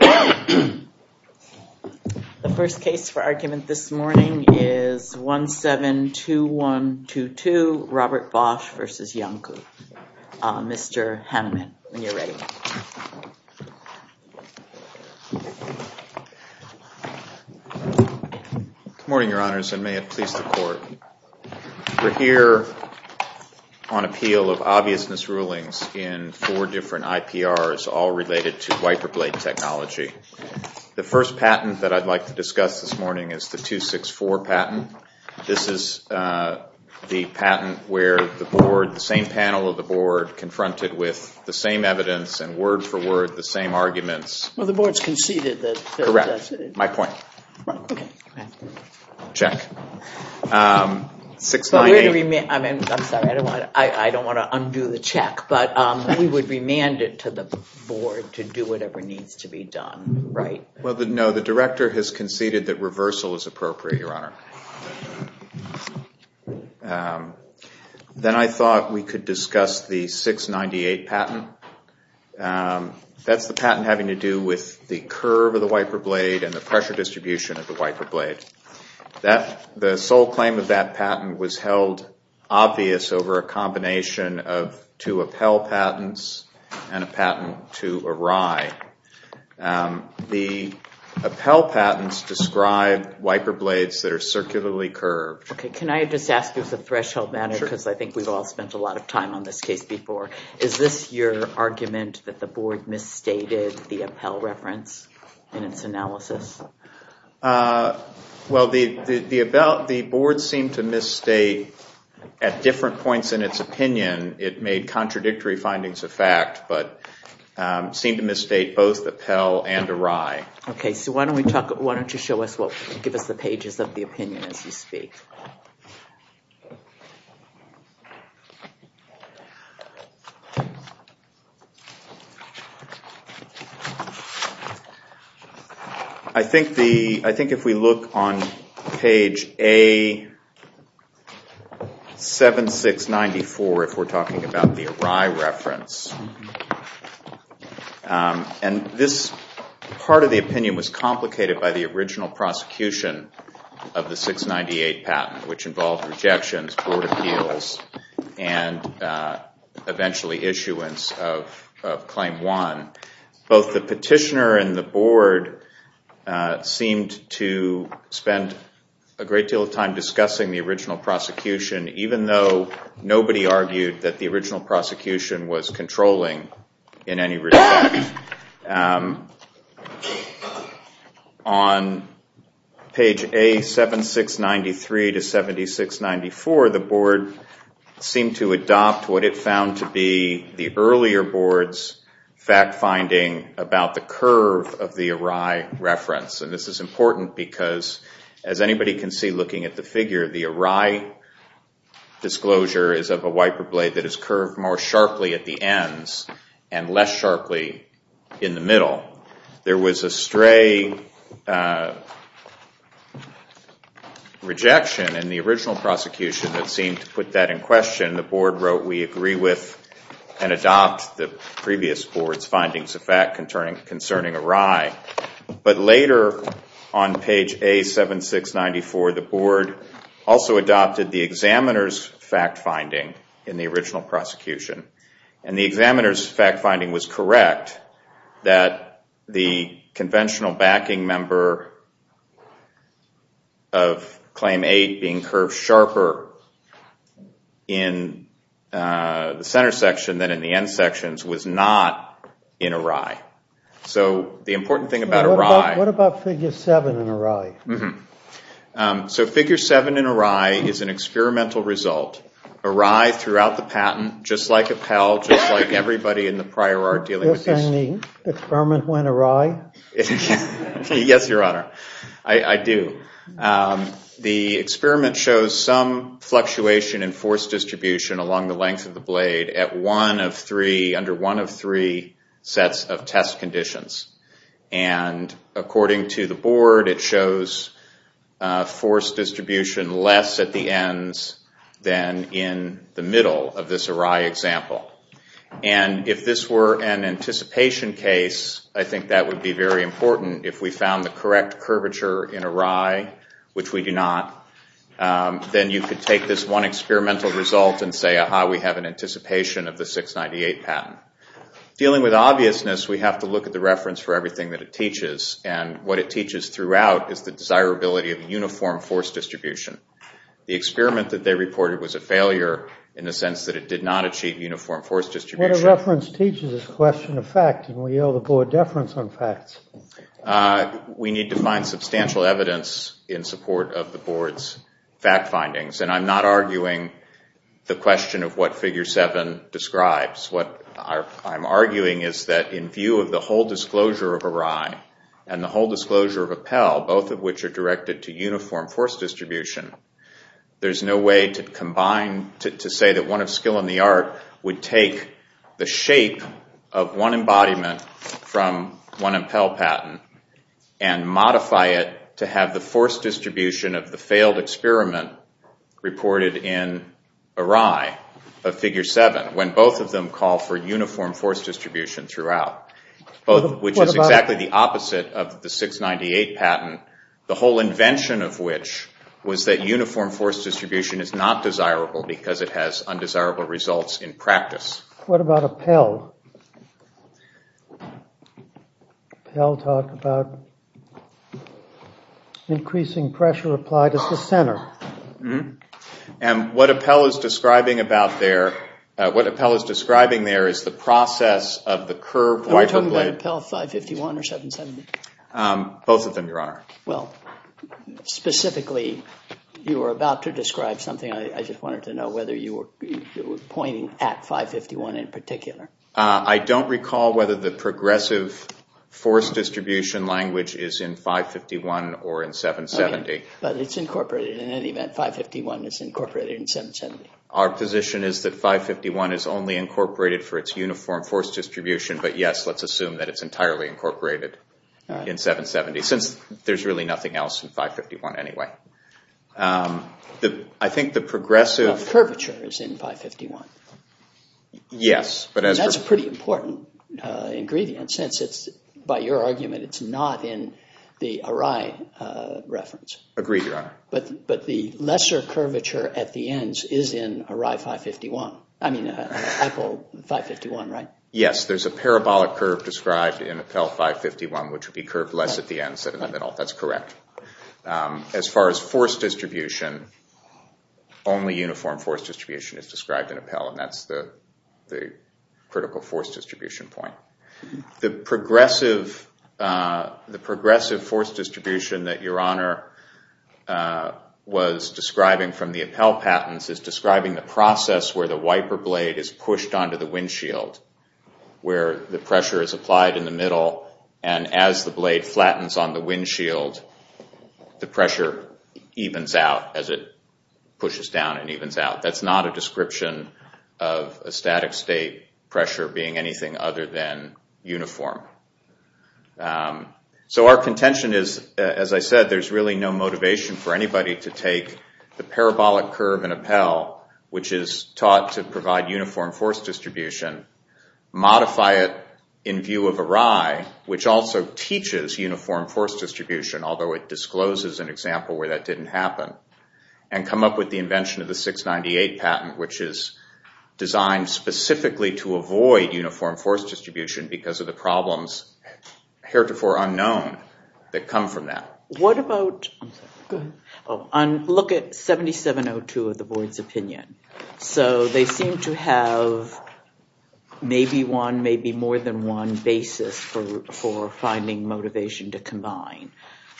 The first case for argument this morning is 172122, Robert Bosch v. Iancu. Mr. Haneman, when you're ready. Good morning, your honors, and may it please the court. We're here on technology. The first patent that I'd like to discuss this morning is the 264 patent. This is the patent where the board, the same panel of the board, confronted with the same evidence and word for word the same arguments. Well, the board's conceded that. Correct. My point. Check. 698. I'm sorry, I don't want to undo the check, but we would remand it to the board to do whatever needs to be done, right? Well, no, the director has conceded that reversal is appropriate, your honor. Then I thought we could discuss the 698 patent. That's the patent having to do with the curve of the wiper blade and the pressure distribution of the wiper blade. The sole claim of that patent was held obvious over a combination of two Appell patents and a patent to Arai. The Appell patents describe wiper blades that are circularly curved. Can I just ask you as a threshold matter, because I think we've all spent a lot of time on this case before, is this your argument that the board misstated the Appell reference in its analysis? Well, the board seemed to misstate at different points in its opinion. It made contradictory findings of fact, but seemed to misstate both the Appell and Arai. Okay, so why don't you show us, give us the pages of the opinion as you speak. I think if we look on page A7694, if we're talking about the Arai reference, and this part of the opinion was complicated by the original prosecution of the 698 patent, which involved rejections, board appeals, and a number of other things. Eventually issuance of Claim 1. Both the petitioner and the board seemed to spend a great deal of time discussing the original prosecution, even though nobody argued that the original prosecution was controlling in any respect. On page A7693 to 7694, the board seemed to adopt what it found to be the earlier board's fact finding about the curve of the Arai reference. This is important because, as anybody can see looking at the figure, the Arai disclosure is of a wiper blade that is curved more sharply at the ends and less sharply in the middle. There was a stray rejection in the original prosecution that seemed to put that in question. The board wrote, we agree with and adopt the previous board's findings of fact concerning Arai. Later, on page A7694, the board also adopted the examiner's fact finding in the original prosecution. The examiner's fact finding was correct that the conventional backing member of Claim 8 being curved sharper in the center section than in the end sections was not in Arai. What about figure 7 in Arai? Figure 7 in Arai is an experimental result. Arai throughout the patent, just like Appel, just like everybody in the prior art dealing with this. Does that mean the experiment went Arai? Yes, your honor. I do. The experiment shows some fluctuation in force distribution along the length of the blade under one of three sets of test conditions. According to the board, it shows force distribution less at the ends than in the middle of this Arai example. If this were an anticipation case, I think that would be very important. If we found the correct curvature in Arai, which we do not, then you could take this one experimental result and say, aha, we have an anticipation of the 698 patent. Dealing with obviousness, we have to look at the reference for everything that it teaches. What it teaches throughout is the desirability of uniform force distribution. The experiment that they reported was a failure in the sense that it did not achieve uniform force distribution. What a reference teaches is a question of fact, and we owe the board deference on facts. We need to find substantial evidence in support of the board's fact findings. And I'm not arguing the question of what figure 7 describes. What I'm arguing is that in view of the whole disclosure of Arai and the whole disclosure of Appel, both of which are directed to uniform force distribution, there's no way to say that one of skill and the art would take the shape of one embodiment from one Appel patent and modify it to have the force distribution of the failed experiment reported in Arai of figure 7. When both of them call for uniform force distribution throughout, which is exactly the opposite of the 698 patent, the whole invention of which was that uniform force distribution is not desirable because it has undesirable results in practice. What about Appel? Appel talked about increasing pressure applied at the center. And what Appel is describing about there, what Appel is describing there is the process of the curve. Are you talking about Appel 551 or 770? Both of them, Your Honor. Well, specifically, you were about to describe something. I just wanted to know whether you were pointing at 551 in particular. I don't recall whether the progressive force distribution language is in 551 or in 770. But it's incorporated. In any event, 551 is incorporated in 770. Our position is that 551 is only incorporated for its uniform force distribution, but yes, let's assume that it's entirely incorporated in 770 since there's really nothing else in 551 anyway. I think the progressive curvature is in 551. That's a pretty important ingredient since, by your argument, it's not in the Arai reference. Agreed, Your Honor. But the lesser curvature at the ends is in Arai 551. I mean, Apple 551, right? Yes, there's a parabolic curve described in Appel 551, which would be curved less at the ends than in the middle. That's correct. As far as force distribution, only uniform force distribution is described in Appel, and that's the critical force distribution point. The progressive force distribution that Your Honor was describing from the Appel patents is describing the process where the wiper blade is pushed onto the windshield, where the pressure is applied in the middle, and as the blade flattens on the windshield, the pressure evens out as it pushes down and evens out. That's not a description of a static state pressure being anything other than uniform. So our contention is, as I said, there's really no motivation for anybody to take the parabolic curve in Appel, which is taught to provide uniform force distribution, modify it in view of Arai, which also teaches uniform force distribution, although it discloses an example where that didn't happen, and come up with the invention of the 698 patent, which is designed specifically to avoid uniform force distribution because of the problems heretofore unknown that come from that. Go ahead. Look at 7702 of the board's opinion. So they seem to have maybe one, maybe more than one basis for finding motivation to combine.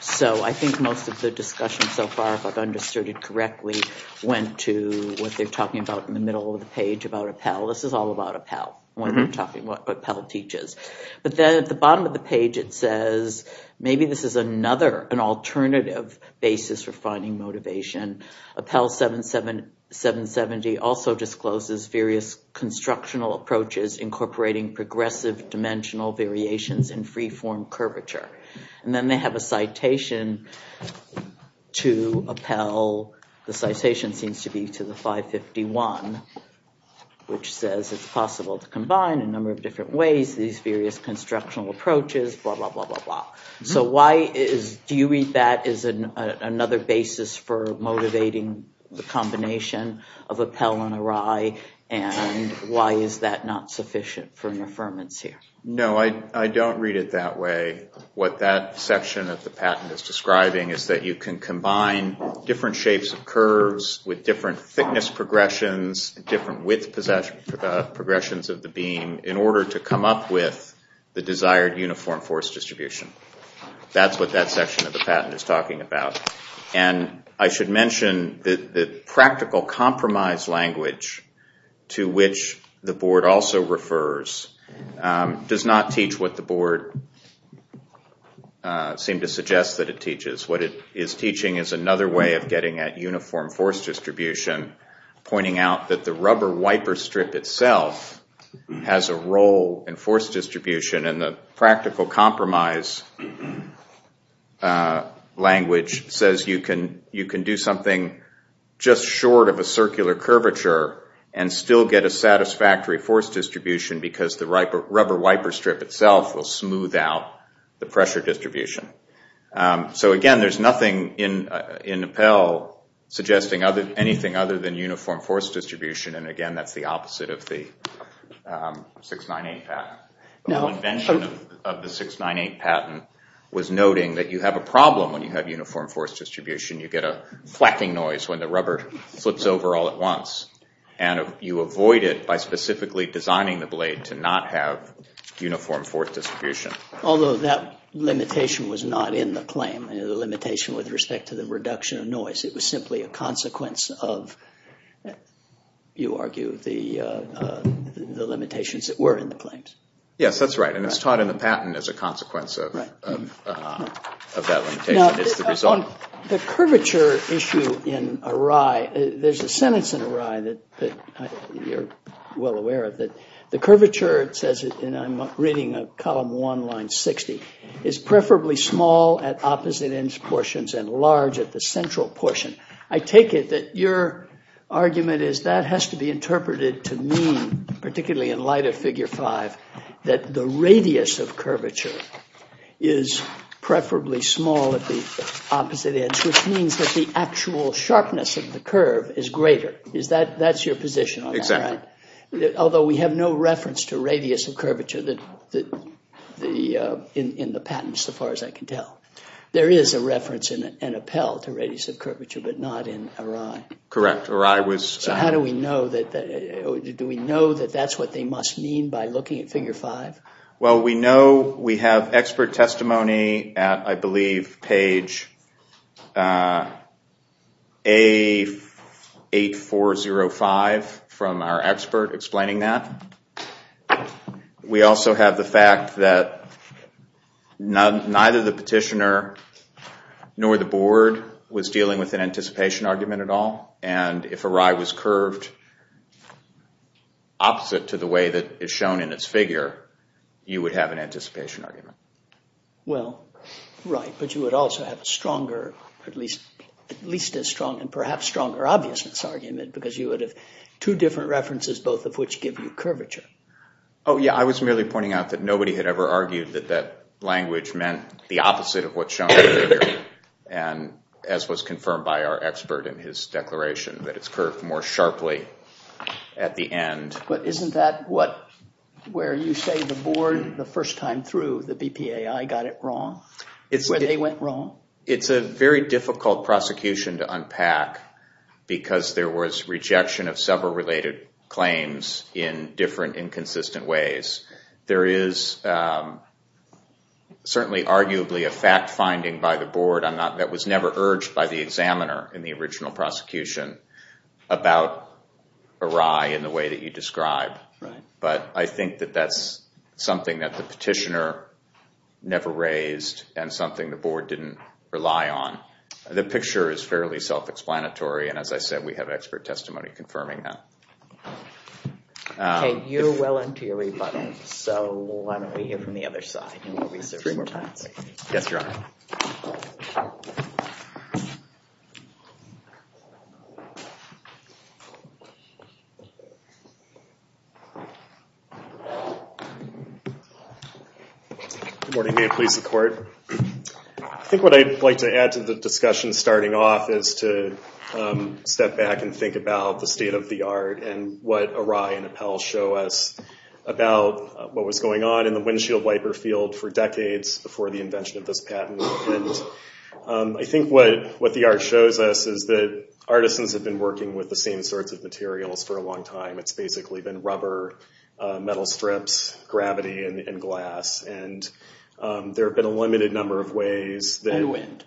So I think most of the discussion so far, if I've understood it correctly, went to what they're talking about in the middle of the page about Appel. This is all about Appel when they're talking about what Appel teaches. But then at the bottom of the page it says maybe this is another, an alternative basis for finding motivation. Appel 770 also discloses various constructional approaches incorporating progressive dimensional variations in free-form curvature. And then they have a citation to Appel. The citation seems to be to the 551, which says it's possible to combine a number of different ways these various constructional approaches, blah, blah, blah, blah, blah. So why is, do you read that as another basis for motivating the combination of Appel and Arai, and why is that not sufficient for an affirmance here? No, I don't read it that way. What that section of the patent is describing is that you can combine different shapes of curves with different thickness progressions, different width progressions of the beam in order to come up with the desired uniform force distribution. That's what that section of the patent is talking about. And I should mention that the practical compromise language to which the board also refers does not teach what the board seemed to suggest that it teaches. What it is teaching is another way of getting at uniform force distribution, pointing out that the rubber wiper strip itself has a role in force distribution, and the practical compromise language says you can do something just short of a circular curvature and still get a satisfactory force distribution because the rubber wiper strip itself will smooth out the pressure distribution. So again, there's nothing in Appel suggesting anything other than uniform force distribution, and again, that's the opposite of the 698 patent. The whole invention of the 698 patent was noting that you have a problem when you have uniform force distribution. You get a flacking noise when the rubber flips over all at once, and you avoid it by specifically designing the blade to not have uniform force distribution. Although that limitation was not in the claim, the limitation with respect to the reduction of noise. It was simply a consequence of, you argue, the limitations that were in the claims. Yes, that's right, and it's taught in the patent as a consequence of that limitation. Now, on the curvature issue in Arai, there's a sentence in Arai that you're well aware of. The curvature, it says, and I'm reading column 1, line 60, is preferably small at opposite-edge portions and large at the central portion. I take it that your argument is that has to be interpreted to mean, particularly in light of figure 5, that the radius of curvature is preferably small at the opposite edge, which means that the actual sharpness of the curve is greater. That's your position on that, right? Exactly. Although we have no reference to radius of curvature in the patents, so far as I can tell. There is a reference in Appel to radius of curvature, but not in Arai. Correct, Arai was— So how do we know that—do we know that that's what they must mean by looking at figure 5? Well, we know we have expert testimony at, I believe, page 8405 from our expert explaining that. We also have the fact that neither the petitioner nor the board was dealing with an anticipation argument at all, and if Arai was curved opposite to the way that is shown in its figure, you would have an anticipation argument. Well, right, but you would also have a stronger—at least as strong and perhaps stronger obviousness argument because you would have two different references, both of which give you curvature. Oh, yeah, I was merely pointing out that nobody had ever argued that that language meant the opposite of what's shown in the figure, and as was confirmed by our expert in his declaration, that it's curved more sharply at the end. But isn't that what—where you say the board the first time through, the BPAI, got it wrong? Where they went wrong? It's a very difficult prosecution to unpack because there was rejection of several related claims in different inconsistent ways. There is certainly arguably a fact-finding by the board that was never urged by the examiner in the original prosecution about Arai in the way that you describe. Right. But I think that that's something that the petitioner never raised and something the board didn't rely on. The picture is fairly self-explanatory, and as I said, we have expert testimony confirming that. Okay, you're well into your rebuttal, so why don't we hear from the other side and we'll reserve some more time. Yes, Your Honor. Good morning. May it please the Court. I think what I'd like to add to the discussion starting off is to step back and think about the state of the art and what Arai and Appel show us about what was going on in the windshield wiper field for decades before the invention of this patent. I think what the art shows us is that artisans have been working with the same sorts of materials for a long time. It's basically been rubber, metal strips, gravity, and glass. And there have been a limited number of ways that— And wind.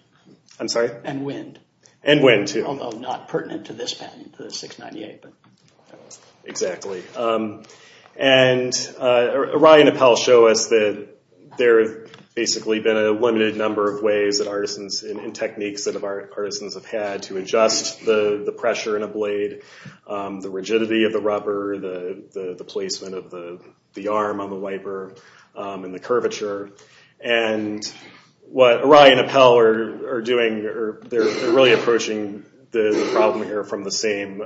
I'm sorry? And wind. And wind, too. Although not pertinent to this patent, the 698. Exactly. And Arai and Appel show us that there have basically been a limited number of ways that artisans, and techniques that artisans have had to adjust the pressure in a blade, the rigidity of the rubber, the placement of the arm on the wiper, and the curvature. And what Arai and Appel are doing, they're really approaching the problem here from the same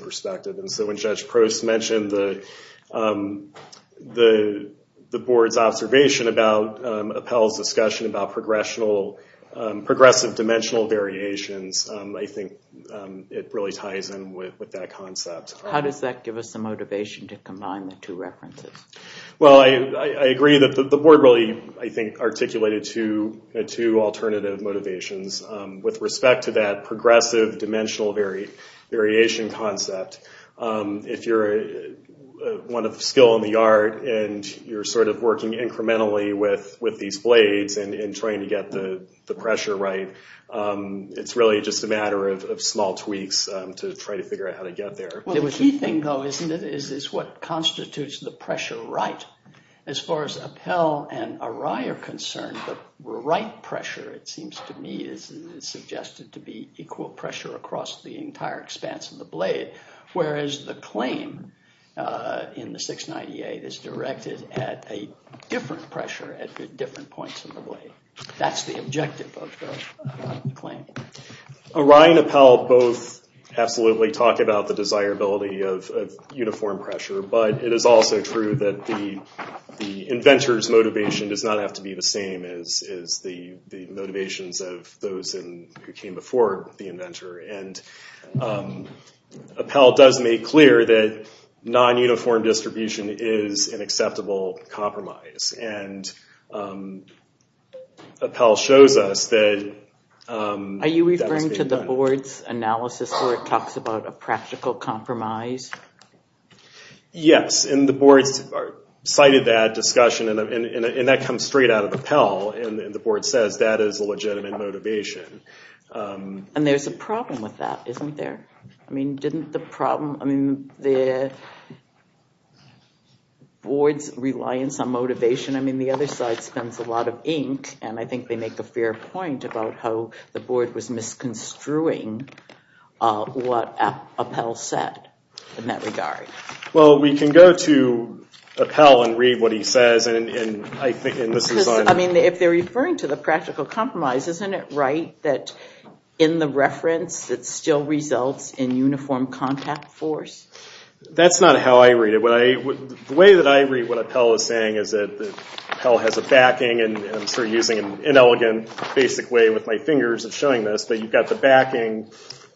perspective. And so when Judge Prost mentioned the board's observation about Appel's discussion about progressive dimensional variations, I think it really ties in with that concept. How does that give us the motivation to combine the two references? Well, I agree that the board really, I think, articulated two alternative motivations with respect to that progressive dimensional variation concept. If you're one of skill in the art and you're sort of working incrementally with these blades and trying to get the pressure right, it's really just a matter of small tweaks to try to figure out how to get there. Well, the key thing, though, isn't it, is what constitutes the pressure right? As far as Appel and Arai are concerned, the right pressure, it seems to me, is suggested to be equal pressure across the entire expanse of the blade, whereas the claim in the 698 is directed at a different pressure at different points in the blade. Arai and Appel both absolutely talk about the desirability of uniform pressure, but it is also true that the inventor's motivation does not have to be the same as the motivations of those who came before the inventor. And Appel does make clear that non-uniform distribution is an acceptable compromise. And Appel shows us that... Are you referring to the board's analysis where it talks about a practical compromise? Yes, and the board cited that discussion, and that comes straight out of Appel, and the board says that is a legitimate motivation. And there's a problem with that, isn't there? I mean, didn't the problem... I mean, the board's reliance on motivation, I mean, the other side spends a lot of ink, and I think they make a fair point about how the board was misconstruing what Appel said in that regard. Well, we can go to Appel and read what he says, and I think... I mean, if they're referring to the practical compromise, isn't it right that in the reference it still results in uniform contact force? That's not how I read it. The way that I read what Appel is saying is that Appel has a backing, and I'm sort of using an inelegant, basic way with my fingers of showing this, but you've got the backing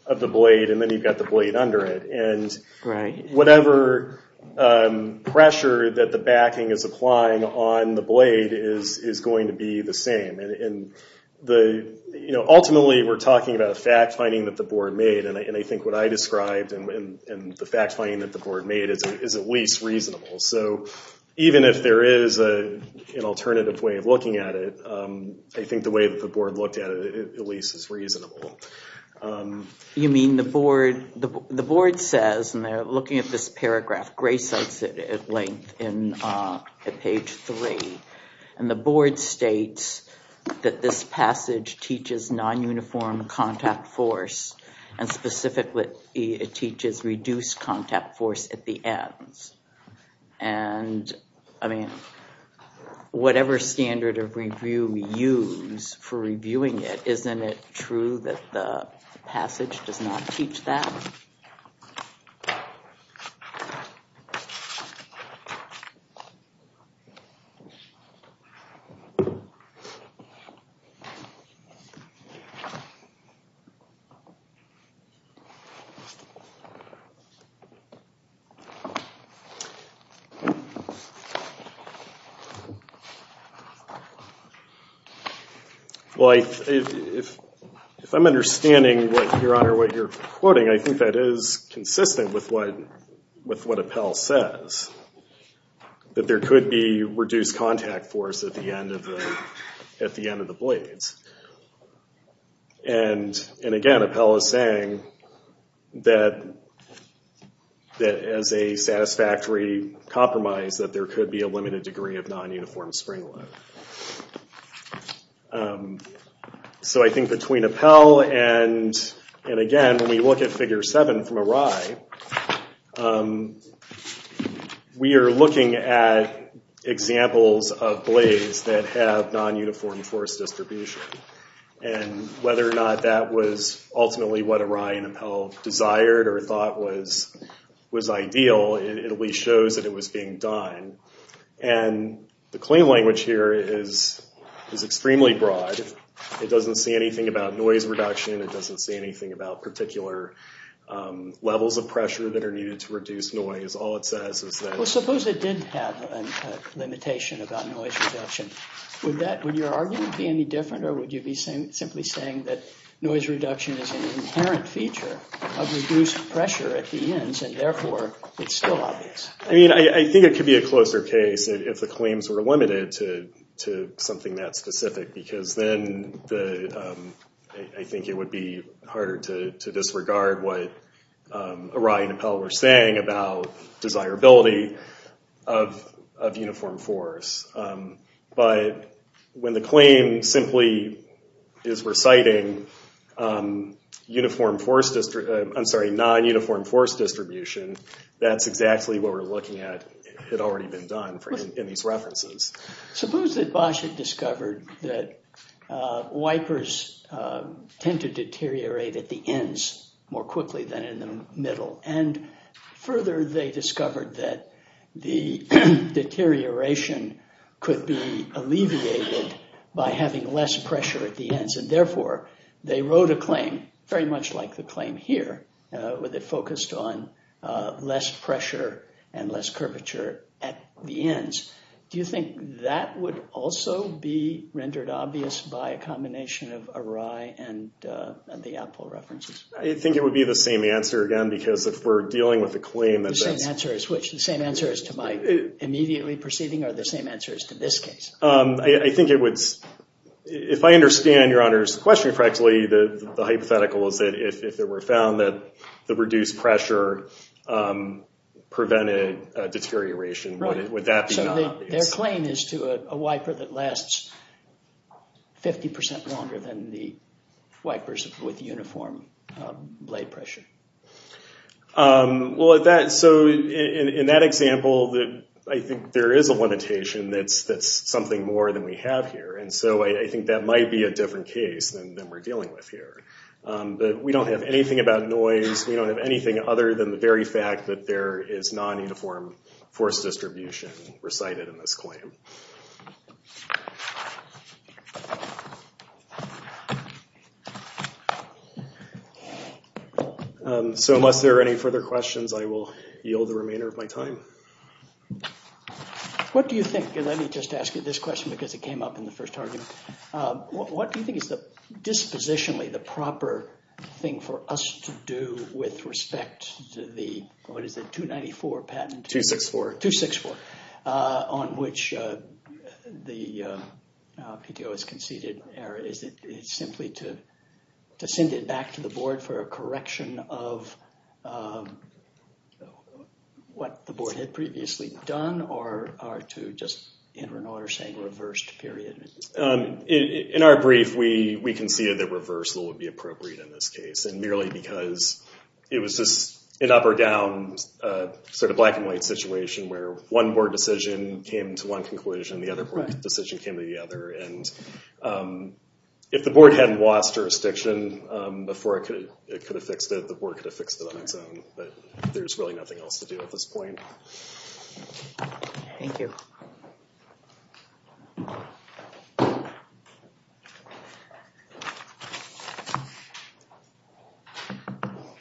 of the blade, and then you've got the blade under it. And whatever pressure that the backing is applying on the blade is going to be the same. Ultimately, we're talking about a fact-finding that the board made, and I think what I described in the fact-finding that the board made is at least reasonable. So even if there is an alternative way of looking at it, I think the way that the board looked at it at least is reasonable. You mean the board says, and they're looking at this paragraph, Gray cites it at length at page three, and the board states that this passage teaches non-uniform contact force, and specifically it teaches reduced contact force at the ends. And I mean, whatever standard of review we use for reviewing it, isn't it true that the passage does not teach that? Well, if I'm understanding, Your Honor, what you're quoting, I think that is consistent with what Appell says, that there could be reduced contact force at the end of the blades. And again, Appell is saying that as a satisfactory compromise, that there could be a limited degree of non-uniform spring load. So I think between Appell and, again, when we look at figure seven from Arai, we are looking at examples of blades that have non-uniform force distribution. And whether or not that was ultimately what Arai and Appell desired or thought was ideal, it at least shows that it was being done. And the claim language here is extremely broad. It doesn't say anything about noise reduction. It doesn't say anything about particular levels of pressure that are needed to reduce noise. All it says is that— Well, suppose it did have a limitation about noise reduction. Would your argument be any different, or would you be simply saying that noise reduction is an inherent feature of reduced pressure at the ends, and therefore it's still obvious? I mean, I think it could be a closer case if the claims were limited to something that specific, because then I think it would be harder to disregard what Arai and Appell were saying about desirability of uniform force. But when the claim simply is reciting non-uniform force distribution, that's exactly what we're looking at. It had already been done in these references. Suppose that Bosch had discovered that wipers tend to deteriorate at the ends more quickly than in the middle, and further they discovered that the deterioration could be alleviated by having less pressure at the ends, and therefore they wrote a claim very much like the claim here, with it focused on less pressure and less curvature at the ends. Do you think that would also be rendered obvious by a combination of Arai and the Appell references? I think it would be the same answer again, because if we're dealing with a claim— The same answer as which? The same answer as to my immediately proceeding, or the same answer as to this case? I think it would—if I understand Your Honor's question correctly, the hypothetical is that if it were found that the reduced pressure prevented deterioration, would that be not— So their claim is to a wiper that lasts 50% longer than the wipers with uniform blade pressure. Well, so in that example, I think there is a limitation that's something more than we have here, and so I think that might be a different case than we're dealing with here. We don't have anything about noise. We don't have anything other than the very fact that there is non-uniform force distribution recited in this claim. So unless there are any further questions, I will yield the remainder of my time. What do you think—and let me just ask you this question because it came up in the first argument— what do you think is dispositionally the proper thing for us to do with respect to the—what is it—294 patent? 264. 264, on which the PTO has conceded error. Is it simply to send it back to the Board for a correction of what the Board had previously done, or to just enter an order saying reversed, period? In our brief, we conceded that reversal would be appropriate in this case, and merely because it was just an up-or-down sort of black-and-white situation where one Board decision came to one conclusion and the other Board decision came to the other. And if the Board hadn't lost jurisdiction before it could have fixed it, the Board could have fixed it on its own, but there's really nothing else to do at this point. Thank you.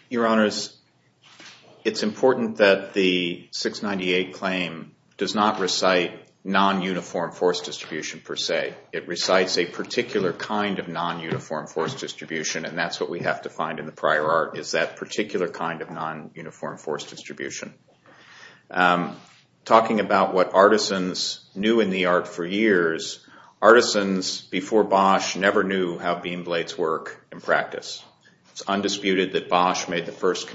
Your Honors, it's important that the 698 claim does not recite non-uniform force distribution per se. It recites a particular kind of non-uniform force distribution, and that's what we have to find in the prior art, is that particular kind of non-uniform force distribution. Talking about what artisans knew in the art for years, artisans before Bosch never knew how beam blades work in practice. It's undisputed that Bosch made the first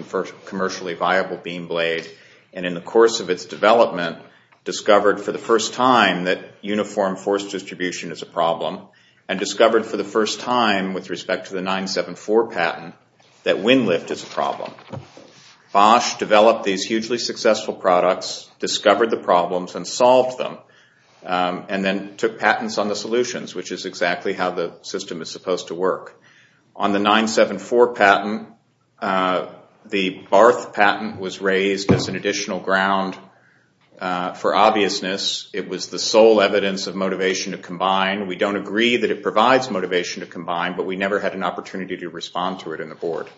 commercially viable beam blade, and in the course of its development discovered for the first time that uniform force distribution is a problem, and discovered for the first time with respect to the 974 patent that wind lift is a problem. Bosch developed these hugely successful products, discovered the problems, and solved them, and then took patents on the solutions, which is exactly how the system is supposed to work. On the 974 patent, the Barth patent was raised as an additional ground for obviousness. It was the sole evidence of motivation to combine. We don't agree that it provides motivation to combine, but we never had an opportunity to respond to it in the Board.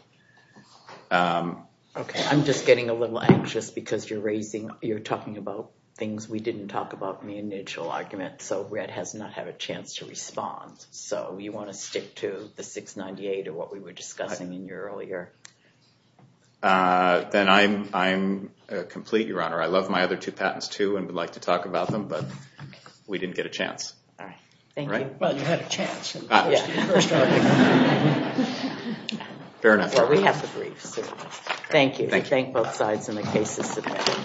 Okay, I'm just getting a little anxious because you're talking about things we didn't talk about in the initial argument, so Red has not had a chance to respond. So you want to stick to the 698 or what we were discussing in here earlier? Then I'm complete, Your Honor. I love my other two patents, too, and would like to talk about them, but we didn't get a chance. Thank you. Well, you had a chance. Fair enough. Well, we have to brief. Thank you. Thank you. Thank both sides on the cases submitted.